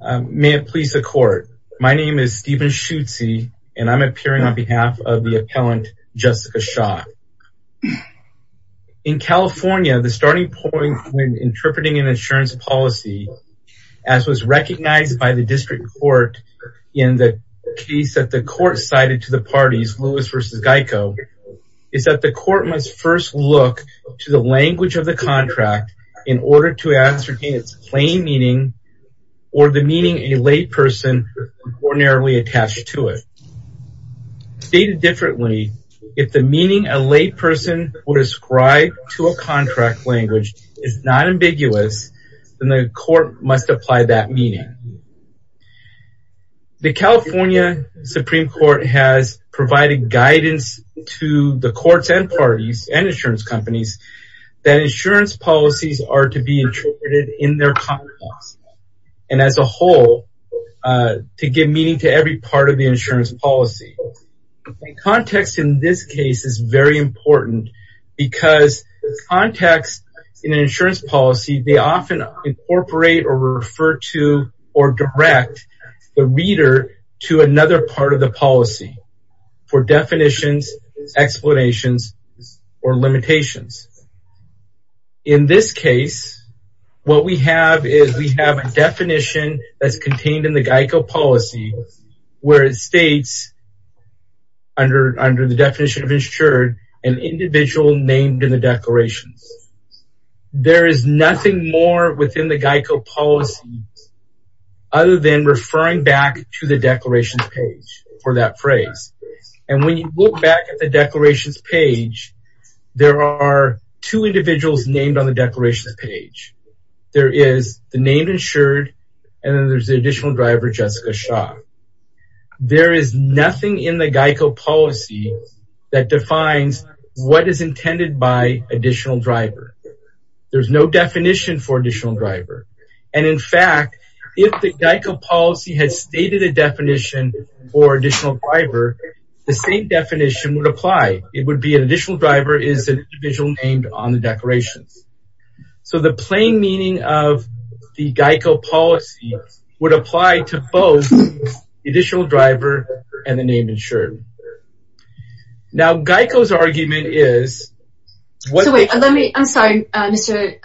May it please the court. My name is Steven Schutze, and I'm appearing on behalf of the appellant, Jessica Shaw. In California, the starting point when interpreting an insurance policy, as was recognized by the district court in the case that the court cited to the parties, Lewis versus Geico, is that the court must first look to the language of the contract in order to ascertain its plain meaning or the meaning a lay person ordinarily attached to it. Stated differently, if the meaning a lay person would ascribe to a contract language is not ambiguous, then the court must apply that meaning. The California Supreme Court has provided guidance to the courts and parties and insurance companies that insurance policies are to be interpreted in their context and as a whole to give meaning to every part of the insurance policy. Context in this case is very important because context in an insurance policy, they often incorporate or refer to or direct the reader to another part of the policy for definitions, explanations, or limitations. In this case, what we have is we have a definition that's contained in the Geico policy where it states under the definition of insured, an individual named in the declarations. There is nothing more within the Geico policy other than referring back to the declarations page for that phrase. And when you look back at the declarations page, there are two individuals named on the declarations page. There is the name insured and then there's the additional driver, Jessica Shaw. There is nothing in the Geico policy that defines what is intended by additional driver. There's no definition for additional driver. And in fact, if the Geico policy has stated a definition for additional driver, the same definition would apply. It would be an additional driver is an individual named on the declarations. So the plain meaning of the Geico policy would apply to both the additional driver and the name insured. Now Geico's argument is- I'm sorry, Mr.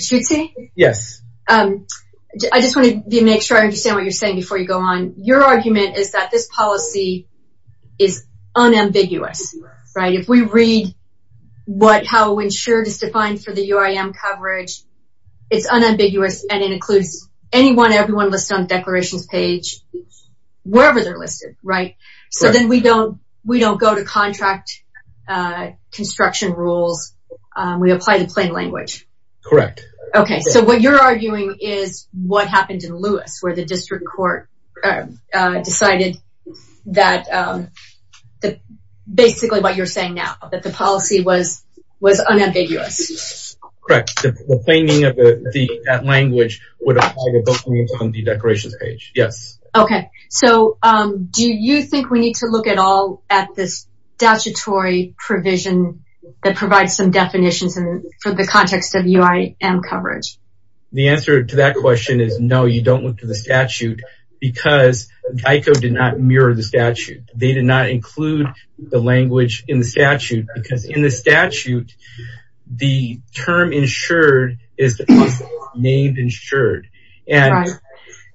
Schutze? Yes. I just want to make sure I understand what you're saying before you go on. Your argument is that this policy is unambiguous, right? If we read how insured is defined for the UIM coverage, it's unambiguous and it includes anyone, everyone listed on the declarations page, wherever they're listed, right? So then we don't go to contract construction rules. We apply the plain language. Correct. Okay, so what you're arguing is what happened in Lewis where the district court decided that basically what you're saying now, that the policy was unambiguous. Correct, the plain meaning of that language would apply to both names on the declarations page, yes. Okay, so do you think we need to look at all at this statutory provision that provides some definitions for the context of UIM coverage? The answer to that question is no, you don't look to the statute because DICO did not mirror the statute. They did not include the language in the statute because in the statute, the term insured is named insured. And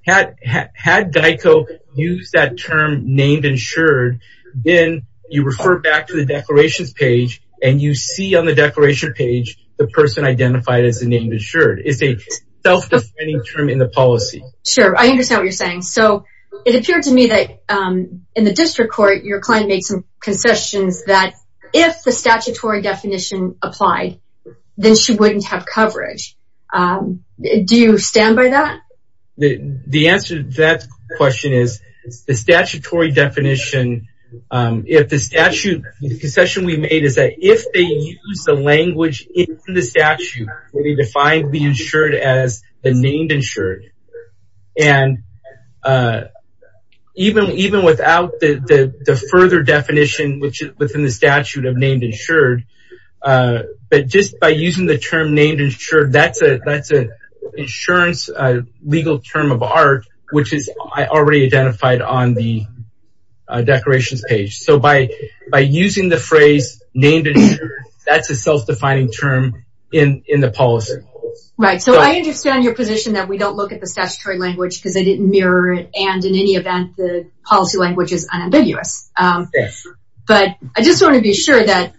had DICO use that term named insured, then you refer back to the declarations page and you see on the declaration page, the person identified as a named insured. It's a self-defining term in the policy. Sure, I understand what you're saying. So it appeared to me that in the district court, your client made some concessions that if the statutory definition applied, then she wouldn't have coverage. Do you stand by that? The answer to that question is the statutory definition, if the statute, the concession we made is that if they use the language in the statute, we need to find the insured as the named insured. And even without the further definition which is within the statute of named insured, but just by using the term named insured, that's an insurance legal term of art, which is already identified on the declarations page. So by using the phrase named insured, that's a self-defining term in the policy. Right, so I understand your position that we don't look at the statutory language because they didn't mirror it. And in any event, the policy language is unambiguous. But I just want to be sure that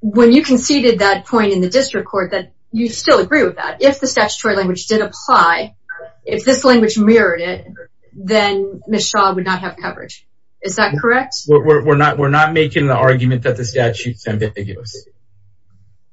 when you conceded that point in the district court, that you still agree with that. If the statutory language did apply, if this language mirrored it, then Ms. Shaw would not have coverage. Is that correct? We're not making the argument that the statute's ambiguous.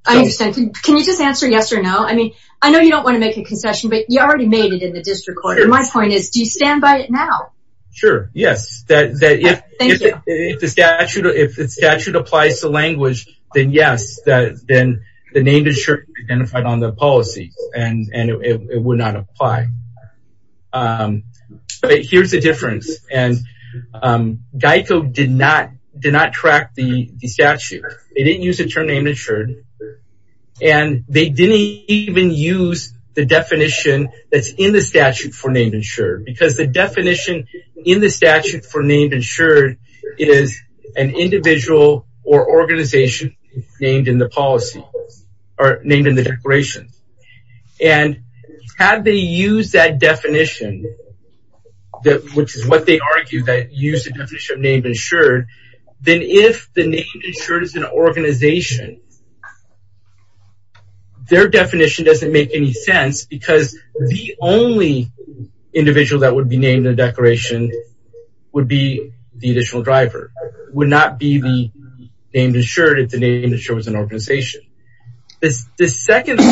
I understand. Can you just answer yes or no? I mean, I know you don't want to make a concession, but you already made it in the district court. My point is, do you stand by it now? Sure, yes. That if the statute applies to language, then yes, then the named insured identified on the policy and it would not apply. But here's the difference. And Geico did not track the statute. They didn't use the term named insured. And they didn't even use the definition that's in the statute for named insured because the definition in the statute for named insured is an individual or organization named in the policy or named in the declaration. And had they used that definition, which is what they argue, that use the definition of named insured, then if the named insured is an organization, their definition doesn't make any sense because the only individual that would be named in the declaration would be the additional driver, would not be the named insured if the named insured was an organization. The second thing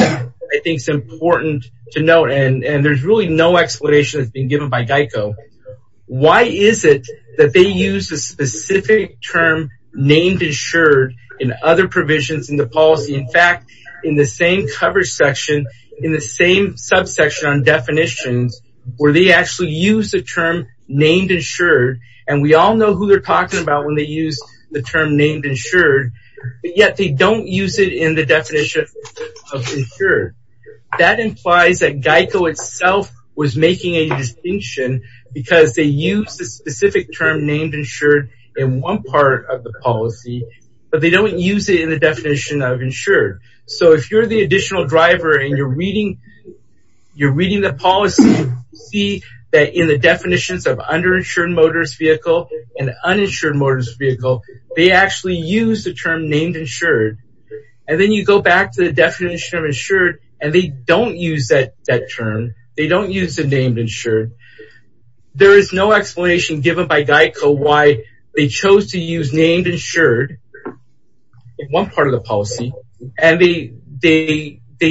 I think is important to note, and there's really no explanation that's been given by Geico. Why is it that they use a specific term named insured in other provisions in the policy? In fact, in the same cover section, in the same subsection on definitions, where they actually use the term named insured, and we all know who they're talking about when they use the term named insured, yet they don't use it in the definition of insured. That implies that Geico itself was making a distinction because they use the specific term named insured in one part of the policy, but they don't use it in the definition of insured. So if you're the additional driver and you're reading the policy, see that in the definitions of underinsured motorist vehicle and uninsured motorist vehicle, they actually use the term named insured. And then you go back to the definition of insured and they don't use that term. They don't use the named insured. There is no explanation given by Geico why they chose to use named insured in one part of the policy. And they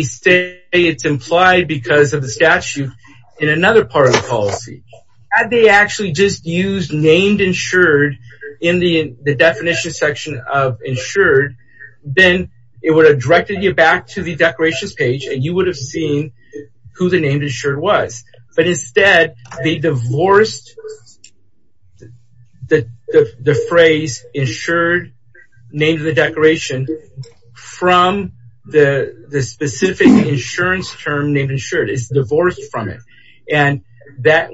say it's implied because of the statute in another part of the policy. Had they actually just used named insured in the definition section of insured, then it would have directed you back to the declarations page and you would have seen who the named insured was. But instead, they divorced the phrase insured, named the declaration, from the specific insurance term named insured. It's divorced from it. And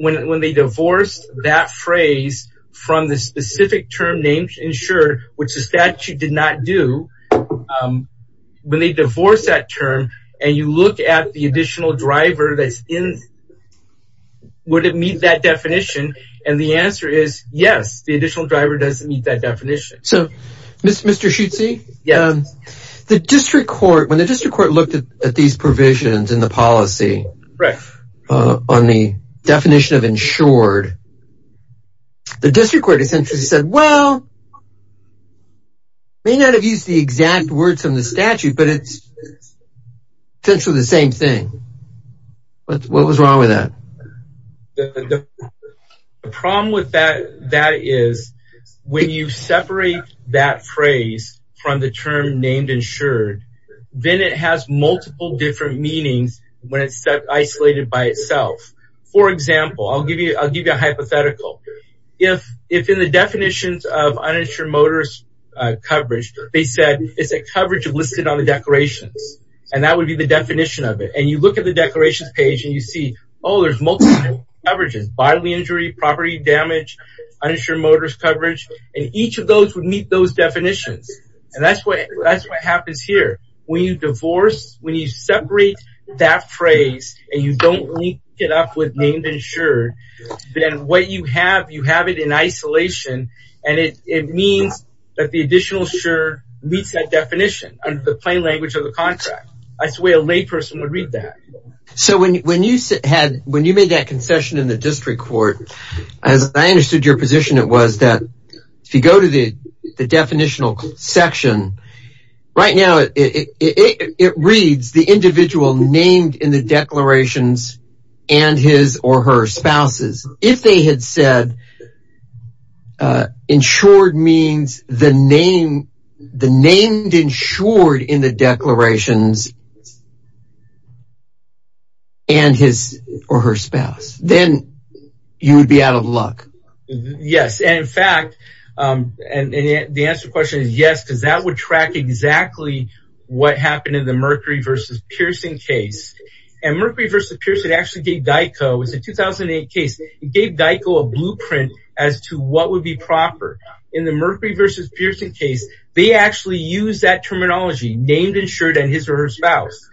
when they divorced that phrase from the specific term named insured, which the statute did not do, when they divorce that term and you look at the additional driver that's in, would it meet that definition? And the answer is yes, the additional driver doesn't meet that definition. So, Mr. Schutze? Yes. The district court, when the district court looked at these provisions in the policy on the definition of insured, the district court essentially said, well, may not have used the exact words from the statute, but it's essentially the same thing. What was wrong with that? The problem with that is, when you separate that phrase from the term named insured, then it has multiple different meanings when it's set isolated by itself. For example, I'll give you a hypothetical. If in the definitions of uninsured motorist coverage, they said, it's a coverage of listed on the declarations. And that would be the definition of it. And you look at the declarations page and you see, oh, there's multiple coverages, bodily injury, property damage, uninsured motorist coverage. And each of those would meet those definitions. And that's what happens here. When you divorce, when you separate that phrase and you don't link it up with named insured, then what you have, you have it in isolation. And it means that the additional sure meets that definition under the plain language of the contract. I swear a lay person would read that. So when you made that concession in the district court, as I understood your position, it was that if you go to the definitional section, right now it reads the individual named in the declarations and his or her spouses. If they had said insured means the name, the named insured in the declarations and his or her spouse, then you would be out of luck. Yes. And in fact, and the answer to the question is yes, because that would track exactly what happened in the Mercury versus Pearson case. And Mercury versus Pearson actually gave DICO, it was a 2008 case, it gave DICO a blueprint as to what would be proper. In the Mercury versus Pearson case, they actually use that terminology, named insured and his or her spouse.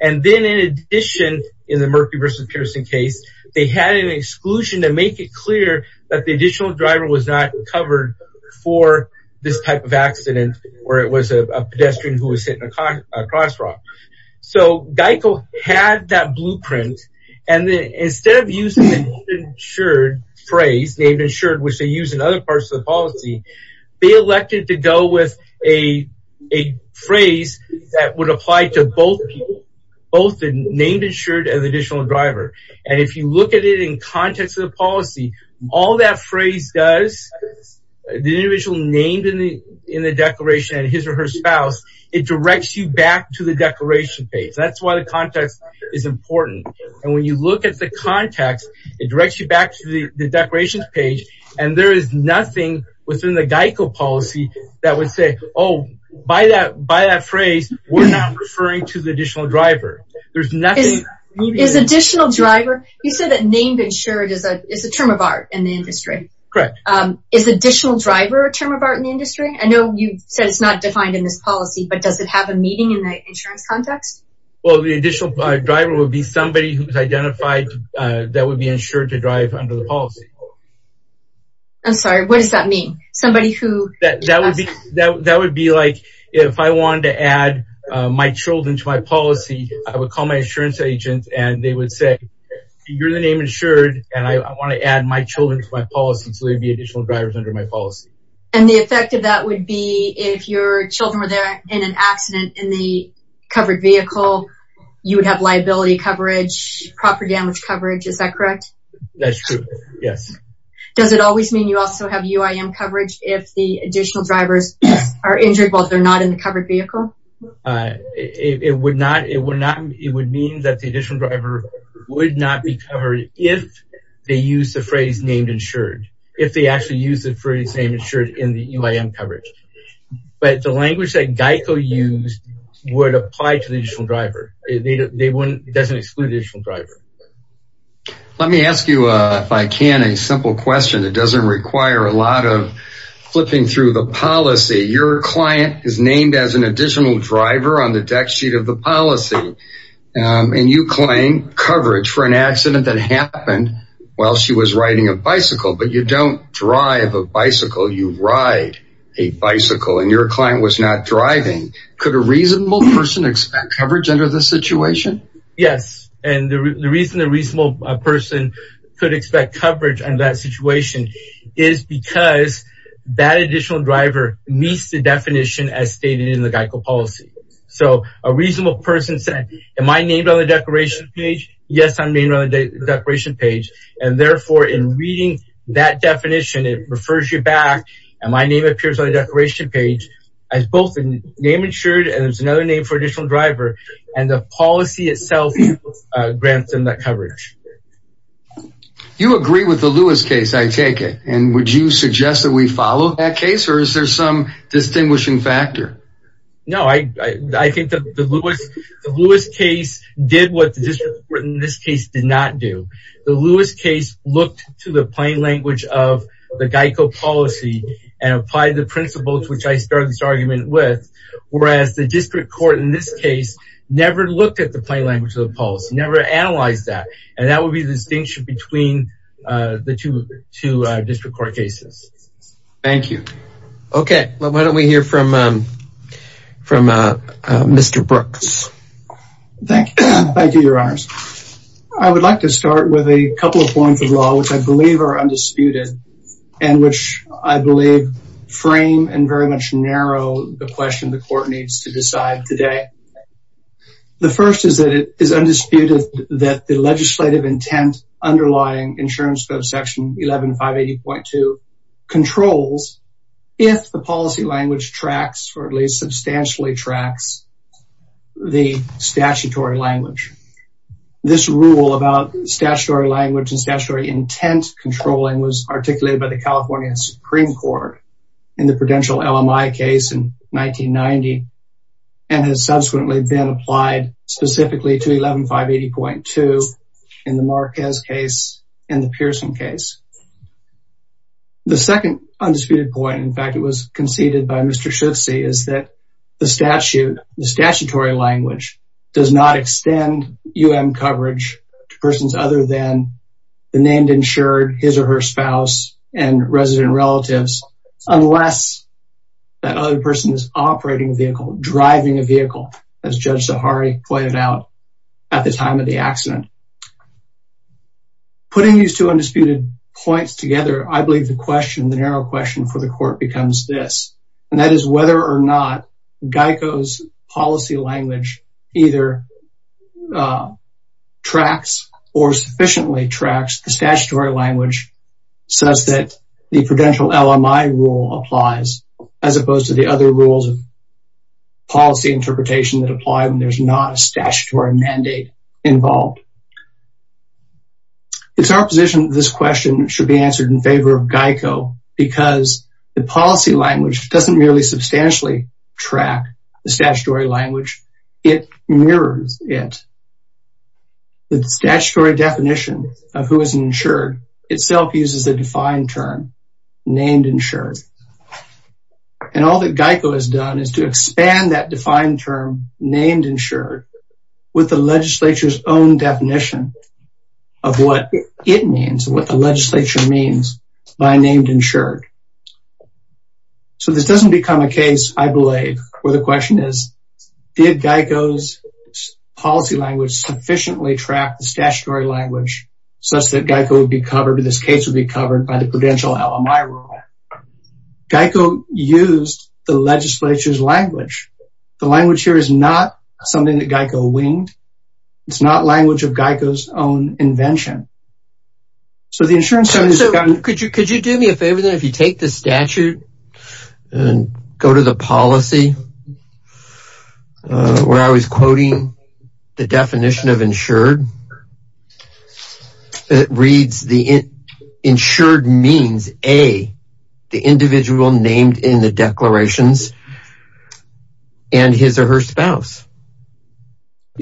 And then in addition, in the Mercury versus Pearson case, they had an exclusion to make it clear that the additional driver was not covered for this type of accident, where it was a pedestrian who was hit in a crosswalk. So DICO had that blueprint. And then instead of using the insured phrase, named insured, which they use in other parts of the policy, they elected to go with a phrase that would apply to both people, both the named insured and the additional driver. And if you look at it in context of the policy, all that phrase does, the individual named in the declaration and his or her spouse, it directs you back to the declaration page. That's why the context is important. And when you look at the context, it directs you back to the declarations page, and there is nothing within the DICO policy that would say, oh, by that phrase, we're not referring to the additional driver. There's nothing. Is additional driver, you said that named insured is a term of art in the industry. Correct. Is additional driver a term of art in the industry? I know you said it's not defined in this policy, but does it have a meaning in the insurance context? Well, the additional driver would be somebody who's identified that would be insured to drive under the policy. I'm sorry, what does that mean? Somebody who- That would be like, if I wanted to add my children to my policy, I would call my insurance agent and they would say, you're the name insured, and I wanna add my children to my policy so there'd be additional drivers under my policy. And the effect of that would be if your children were there in an accident in the covered vehicle, you would have liability coverage, proper damage coverage, is that correct? That's true, yes. Does it always mean you also have UIM coverage if the additional drivers are injured while they're not in the covered vehicle? It would mean that the additional driver would not be covered if they use the phrase named insured. If they actually use the phrase named insured in the UIM coverage. But the language that GEICO used would apply to the additional driver. It doesn't exclude the additional driver. Let me ask you, if I can, a simple question. It doesn't require a lot of flipping through the policy. Your client is named as an additional driver on the deck sheet of the policy. And you claim coverage for an accident that happened while she was riding a bicycle. But you don't drive a bicycle, you ride a bicycle. And your client was not driving. Could a reasonable person expect coverage under this situation? Yes, and the reason a reasonable person could expect coverage under that situation is because that additional driver meets the definition as stated in the GEICO policy. So a reasonable person said, am I named on the declaration page? Yes, I'm named on the declaration page. And therefore, in reading that definition, it refers you back, and my name appears on the declaration page as both a name insured and there's another name for additional driver. And the policy itself grants them that coverage. You agree with the Lewis case, I take it. And would you suggest that we follow that case? Or is there some distinguishing factor? No, I think that the Lewis case did what the district court in this case did not do. The Lewis case looked to the plain language of the GEICO policy and applied the principles which I started this argument with. Whereas the district court in this case never looked at the plain language of the policy, never analyzed that. And that would be the distinction between the two district court cases. Thank you. Thank you, your honors. I would like to start with a couple of points of law which I believe are undisputed and which I believe frame and very much narrow the question the court needs to decide today. The first is that it is undisputed that the legislative intent underlying insurance code section 11-580.2 controls if the policy language tracks or at least substantially tracks the statutory language. This rule about statutory language and statutory intent controlling was articulated by the California Supreme Court in the Prudential LMI case in 1990 and has subsequently been applied specifically to 11-580.2 in the Marquez case and the Pearson case. The second undisputed point, in fact, it was conceded by Mr. Schutze is that the statutory language does not extend UM coverage to persons other than the named insured, his or her spouse and resident relatives unless that other person is operating a vehicle, driving a vehicle, as Judge Zahari pointed out at the time of the accident. Putting these two undisputed points together, I believe the question, the narrow question for the court becomes this. And that is whether or not GEICO's policy language either tracks or sufficiently tracks the statutory language such that the Prudential LMI rule applies as opposed to the other rules of policy interpretation that apply when there's not a statutory mandate involved. It's our position that this question should be answered in favor of GEICO because the policy language doesn't merely substantially track the statutory language, it mirrors it. The statutory definition of who is insured itself uses a defined term, named insured. And all that GEICO has done is to expand that defined term, named insured, with the legislature's own definition of what it means, what the legislature means by named insured. So this doesn't become a case, I believe, where the question is, did GEICO's policy language sufficiently track the statutory language such that GEICO would be covered, or this case would be covered by the Prudential LMI rule? GEICO used the legislature's language. The language here is not something that GEICO winged. It's not language of GEICO's own invention. So the insurance company has gotten- So could you do me a favor then, if you take the statute and go to the policy where I was quoting the definition of insured, it reads the insured means A, the individual named in the declarations, and his or her spouse.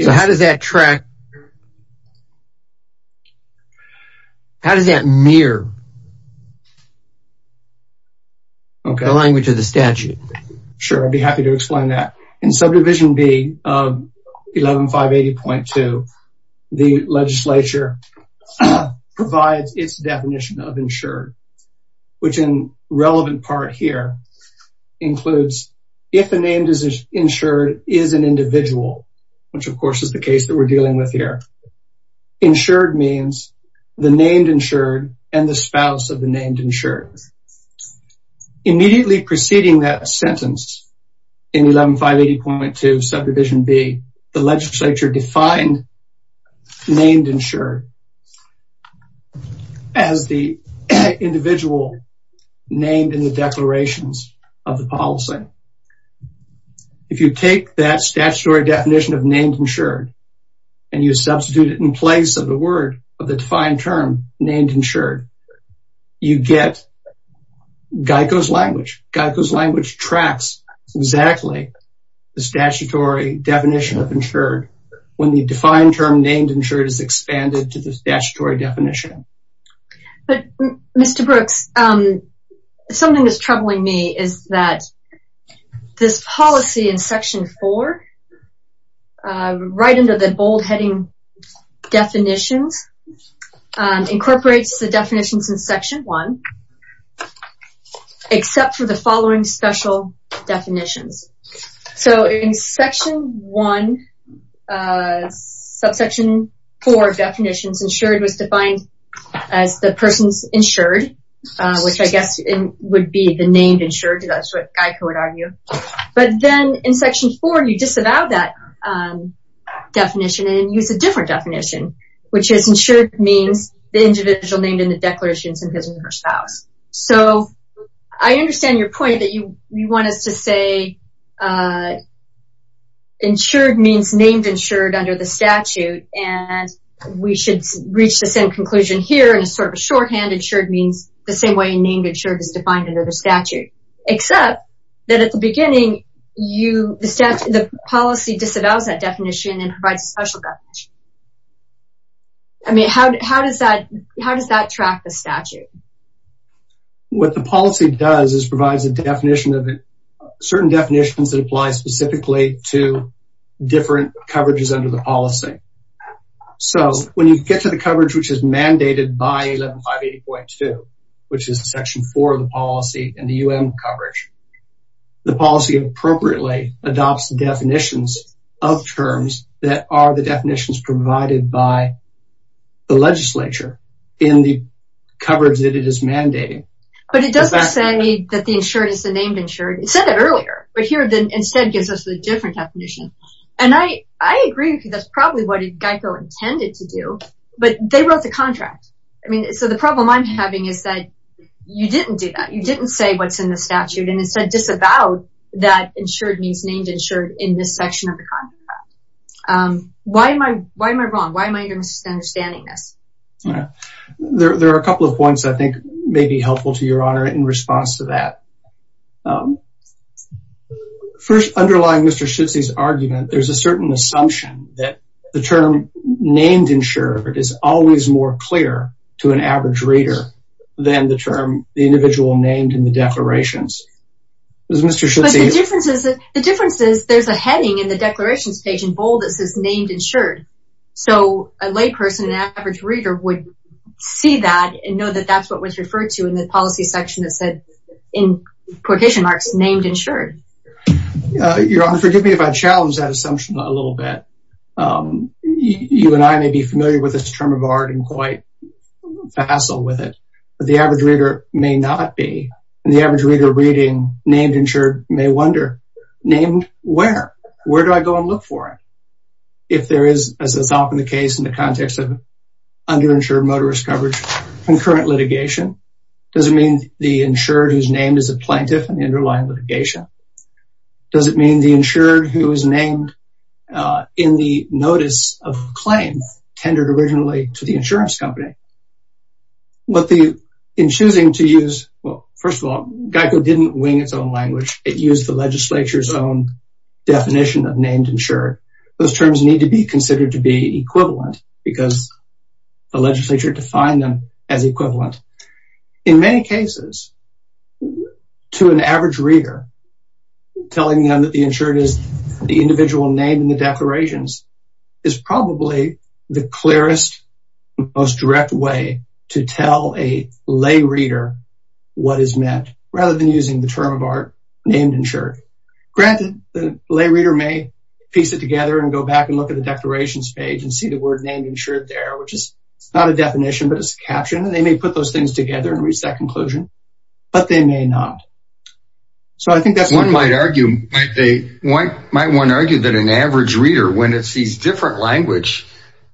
So how does that track? How does that mirror the language of the statute? Sure, I'd be happy to explain that. In subdivision B of 11580.2, the legislature provides its definition of insured, which in relevant part here includes, if the name insured is an individual, which of course is the case that we're dealing with here, insured means the named insured and the spouse of the named insured. Immediately preceding that sentence in 11580.2 subdivision B, the legislature defined named insured as the individual named in the declarations of the policy. If you take that statutory definition of named insured, and you substitute it in place of the word of the defined term named insured, you get Geico's language. Geico's language tracks exactly the statutory definition of insured when the defined term named insured is expanded to the statutory definition. But Mr. Brooks, something that's troubling me is that this policy in section four, right under the bold heading definitions, incorporates the definitions in section one, except for the following special definitions. So in section one, subsection four definitions, insured was defined as the person's insured, which I guess would be the named insured, that's what Geico would argue. But then in section four, you disavow that definition and use a different definition, which is insured means the individual named in the declarations of his or her spouse. So I understand your point that you want us to say insured means named insured under the statute, and we should reach the same conclusion here in sort of a shorthand, insured means the same way named insured is defined under the statute, except that at the beginning, the policy disavows that definition and provides a special definition. I mean, how does that track the statute? What the policy does is provides a definition of it, certain definitions that apply specifically to different coverages under the policy. So when you get to the coverage, which is mandated by 1158.2, which is section four of the policy and the UM coverage, the policy appropriately adopts the definitions of terms that are the definitions provided by the legislature in the coverage that it is mandating. But it doesn't say that the insured is the named insured. It said it earlier, but here then instead gives us a different definition. And I agree with you, that's probably what Geico intended to do, but they wrote the contract. I mean, so the problem I'm having is that you didn't do that. You didn't say what's in the statute and instead disavowed that insured means named insured in this section of the contract. Why am I wrong? Why am I misunderstanding this? There are a couple of points I think may be helpful to your honor in response to that. First underlying Mr. Schutze's argument, there's a certain assumption that the term named insured is always more clear to an average reader than the term, the individual named in the declarations. Is Mr. Schutze- The difference is there's a heading in the declaration stage in bold that says named insured. So a lay person, an average reader would see that and know that that's what was referred to in the policy section that said in quotation marks, named insured. Your honor, forgive me if I challenged that assumption a little bit. You and I may be familiar with this term of art and quite facile with it, but the average reader may not be. And the average reader reading named insured may wonder, named where? Where do I go and look for it? If there is, as is often the case in the context of underinsured motorist coverage and current litigation, does it mean the insured who's named as a plaintiff in the underlying litigation? Does it mean the insured who is named in the notice of claims, tendered originally to the insurance company? What the, in choosing to use, well, first of all, GEICO didn't wing its own language. It used the legislature's own definition of named insured. Those terms need to be considered to be equivalent because the legislature defined them as equivalent. In many cases, to an average reader, telling them that the insured is the individual name in the declarations is probably the clearest, most direct way to tell a lay reader what is meant rather than using the term of art, named insured. Granted, the lay reader may piece it together and go back and look at the declarations page and see the word named insured there, which is not a definition, but it's a caption. And they may put those things together and reach that conclusion, but they may not. So I think that's- I think you might want to argue that an average reader, when it sees different language,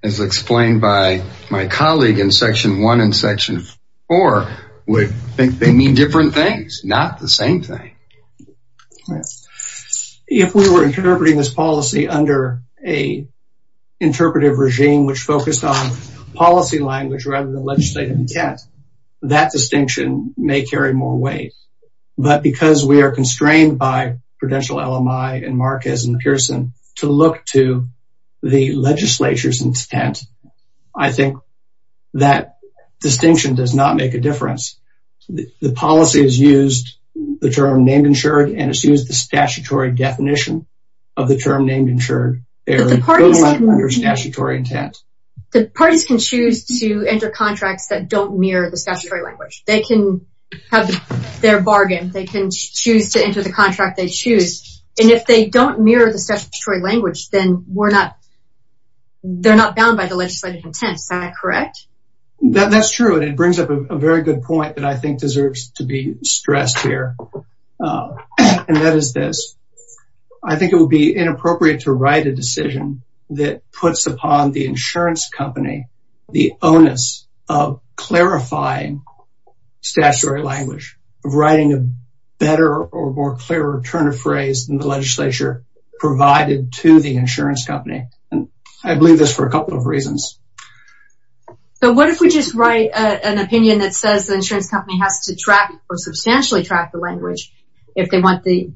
as explained by my colleague in section one and section four, would think they mean different things, not the same thing. If we were interpreting this policy under a interpretive regime, which focused on policy language rather than legislative intent, that distinction may carry more weight. But because we are constrained by Prudential, LMI, and Marquez and Pearson to look to the legislature's intent, I think that distinction does not make a difference. The policy has used the term named insured and it's used the statutory definition of the term named insured. They are totally under statutory intent. The parties can choose to enter contracts that don't mirror the statutory language. They can have their bargain. They can choose to enter the contract they choose. And if they don't mirror the statutory language, then we're not- they're not bound by the legislative intent. Is that correct? That's true. And it brings up a very good point that I think deserves to be stressed here. And that is this. I think it would be inappropriate to write a decision that puts upon the insurance company the onus of clarifying statutory language, of writing a better or more clearer turn of phrase than the legislature provided to the insurance company. And I believe this for a couple of reasons. So what if we just write an opinion that says the insurance company has to track or substantially track the language if they want the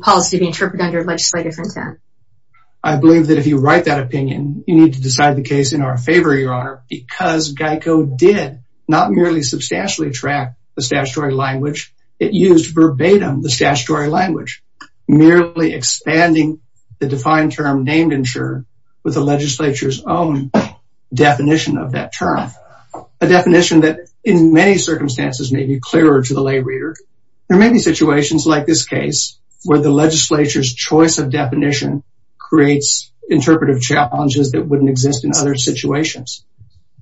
policy to be interpreted under legislative intent? I believe that if you write that opinion, you need to decide the case in our favor, Your Honor, because GEICO did not merely substantially track the statutory language. It used verbatim the statutory language, merely expanding the defined term named insurer with the legislature's own definition of that term. A definition that in many circumstances may be clearer to the lay reader. There may be situations like this case where the legislature's choice of definition creates interpretive challenges that wouldn't exist in other situations.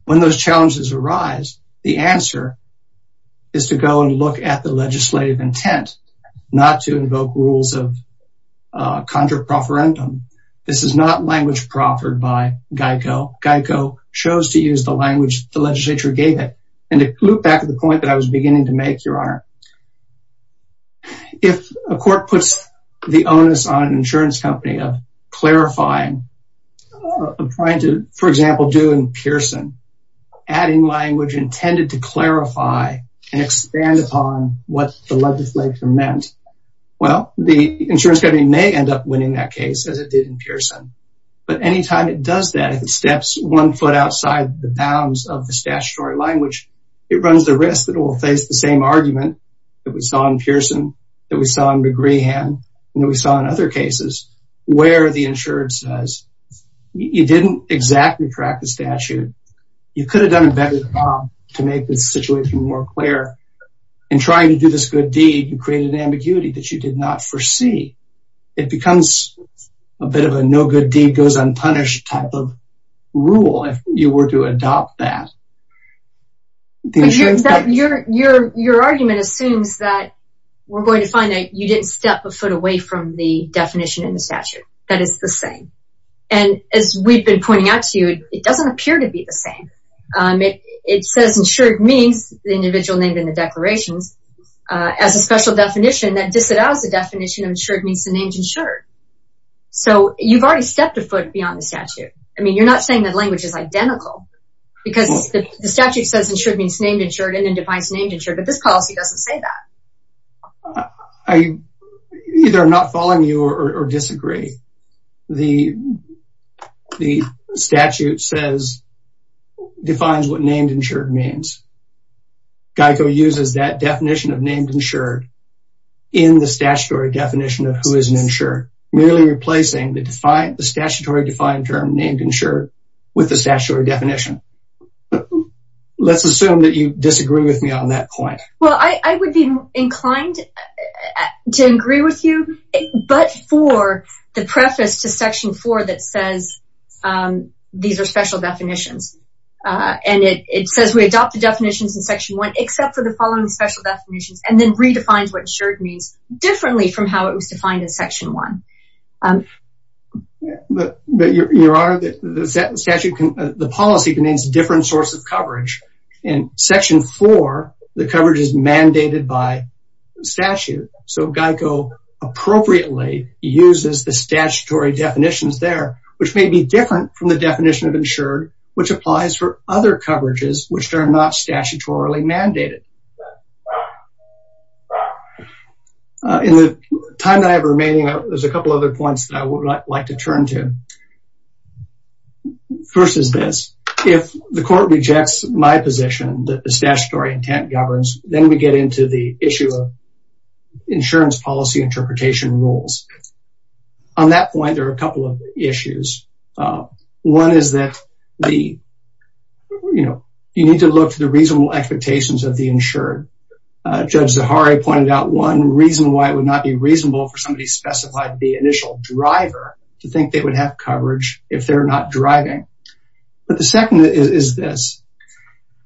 When those challenges arise, the answer is to go and look at the legislative intent, not to invoke rules of contra profferendum. This is not language proffered by GEICO. GEICO chose to use the language the legislature gave it. And to loop back to the point that I was beginning to make, Your Honor, if a court puts the onus on an insurance company of clarifying, of trying to, for example, do in Pearson, adding language intended to clarify and expand upon what the legislature meant, well, the insurance company may end up winning that case as it did in Pearson. But anytime it does that, if it steps one foot outside the bounds of the statutory language, it runs the risk that it will face the same argument that we saw in Pearson, that we saw in McGrehan, and that we saw in other cases, where the insurance says, you didn't exactly track the statute. You could have done it better than that to make the situation more clear. In trying to do this good deed, you created an ambiguity that you did not foresee. It becomes a bit of a no good deed goes unpunished type of rule if you were to adopt that. The insurance company- But your argument assumes that we're going to find that you didn't step a foot away from the definition in the statute that is the same. And as we've been pointing out to you, it doesn't appear to be the same. It says insured means the individual named in the declarations as a special definition that disallows the definition of insured means the name's insured. So you've already stepped a foot beyond the statute. I mean, you're not saying that language is identical because the statute says insured means named insured and then defines named insured, but this policy doesn't say that. I either am not following you or disagree. The statute says, defines what named insured means. GEICO uses that definition of named insured in the statutory definition of who is an insured, merely replacing the statutory defined term named insured with the statutory definition. Let's assume that you disagree with me on that point. Well, I would be inclined to agree with you, but for the preface to section four that says, these are special definitions. And it says we adopt the definitions in section one, except for the following special definitions and then redefines what insured means differently from how it was defined in section one. But Your Honor, the statute, the policy contains different sources of coverage. In section four, the coverage is mandated by statute. So GEICO appropriately uses the statutory definitions there, which may be different from the definition of insured, which applies for other coverages, which are not statutorily mandated. In the time that I have remaining, there's a couple other points that I would like to turn to. First is this. If the court rejects my position that the statutory intent governs, then we get into the issue of insurance policy interpretation rules. On that point, there are a couple of issues. One is that the, you know, you need to look to the reasonable expectations of the insured. Judge Zaharie pointed out one reason why it would not be reasonable for somebody specified the initial driver to think they would have coverage if they're not driving. But the second is this.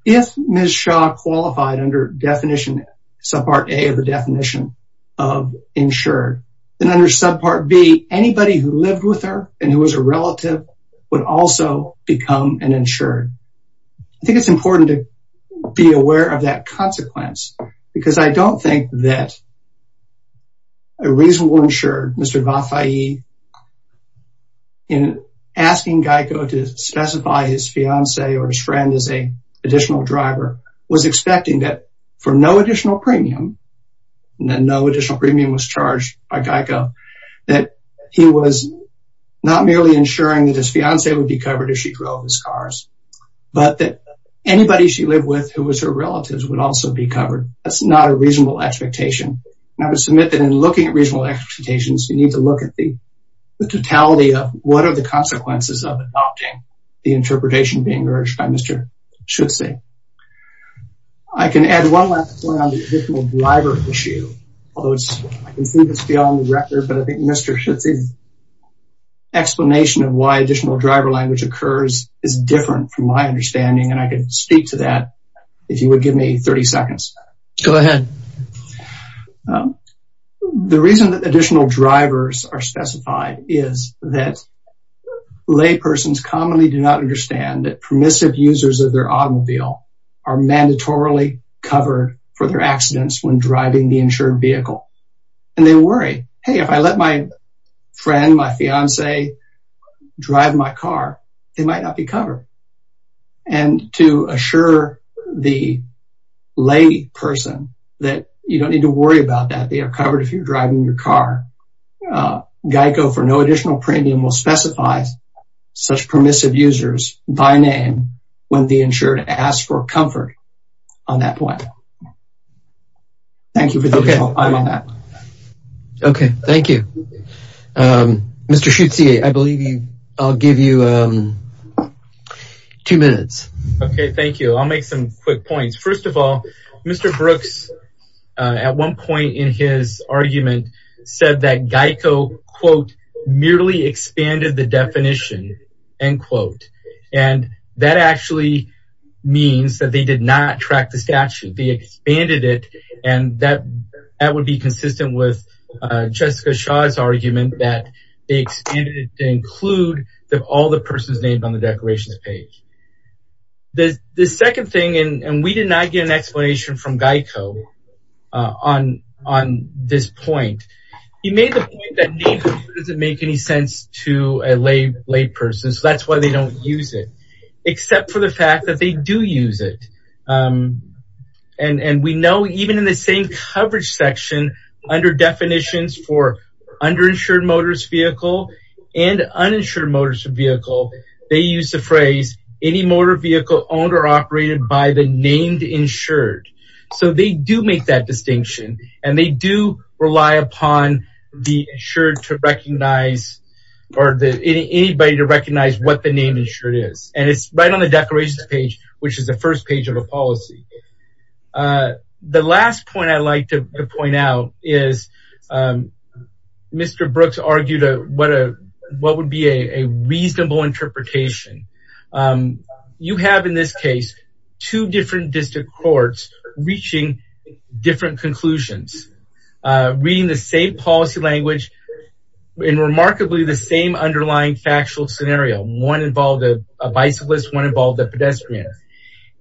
If Ms. Shah qualified under definition, subpart A of the definition of insured, then under subpart B, anybody who lived with her and who was a relative would also become an insured. I think it's important to be aware of that consequence because I don't think that a reasonable insured, Mr. Vafai, in asking Geico to specify his fiancee or his friend as a additional driver, was expecting that for no additional premium, that no additional premium was charged by Geico, that he was not merely ensuring that his fiancee would be covered if she drove his cars, but that anybody she lived with who was her relatives would also be covered. That's not a reasonable expectation. And I would submit that in looking at reasonable expectations you need to look at the totality of what are the consequences of adopting the interpretation being urged by Mr. Schutze. I can add one last point on the additional driver issue. Although I can see this beyond the record, but I think Mr. Schutze's explanation of why additional driver language occurs is different from my understanding. And I can speak to that if you would give me 30 seconds. Go ahead. The reason that additional drivers are specified is that laypersons commonly do not understand that permissive users of their automobile are mandatorily covered for their accidents when driving the insured vehicle. And they worry, hey, if I let my friend, my fiancee drive my car, they might not be covered. And to assure the lay person that they're not covered, that you don't need to worry about that. They are covered if you're driving your car. GEICO for no additional premium will specify such permissive users by name when the insured asks for comfort on that point. Thank you for the additional time on that. Okay, thank you. Mr. Schutze, I believe I'll give you two minutes. Okay, thank you. I'll make some quick points. First of all, Mr. Brooks, at one point in his argument, said that GEICO, quote, merely expanded the definition, end quote. And that actually means that they did not track the statute, they expanded it. And that would be consistent with Jessica Shaw's argument that they expanded it to include all the persons named on the declarations page. The second thing, and we did not get an explanation from GEICO on this point. He made the point that name doesn't make any sense to a lay person, so that's why they don't use it. Except for the fact that they do use it. And we know even in the same coverage section, under definitions for underinsured motorist vehicle and uninsured motorist vehicle, they use the phrase, any motor vehicle owned or operated by the named insured. So they do make that distinction and they do rely upon the insured to recognize or anybody to recognize what the name insured is. And it's right on the declarations page, which is the first page of the policy. The last point I'd like to point out is Mr. Brooks argued what would be a reasonable interpretation you have in this case, two different district courts reaching different conclusions, reading the same policy language in remarkably the same underlying factual scenario. One involved a bicyclist, one involved a pedestrian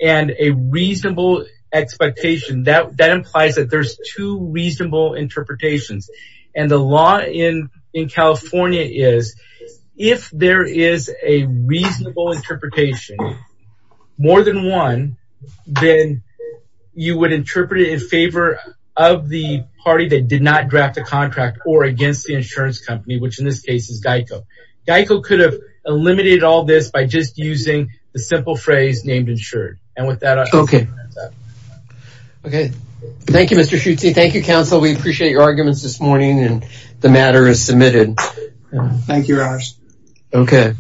and a reasonable expectation that implies that there's two reasonable interpretations. And the law in California is, if there is a reasonable interpretation, more than one, then you would interpret it in favor of the party that did not draft a contract or against the insurance company, which in this case is GEICO. GEICO could have eliminated all this by just using the simple phrase named insured. And with that- Okay. Okay. Thank you, Mr. Schutze. Thank you, counsel. We appreciate your arguments this morning and the matter is submitted. Thank you, Raj. Okay.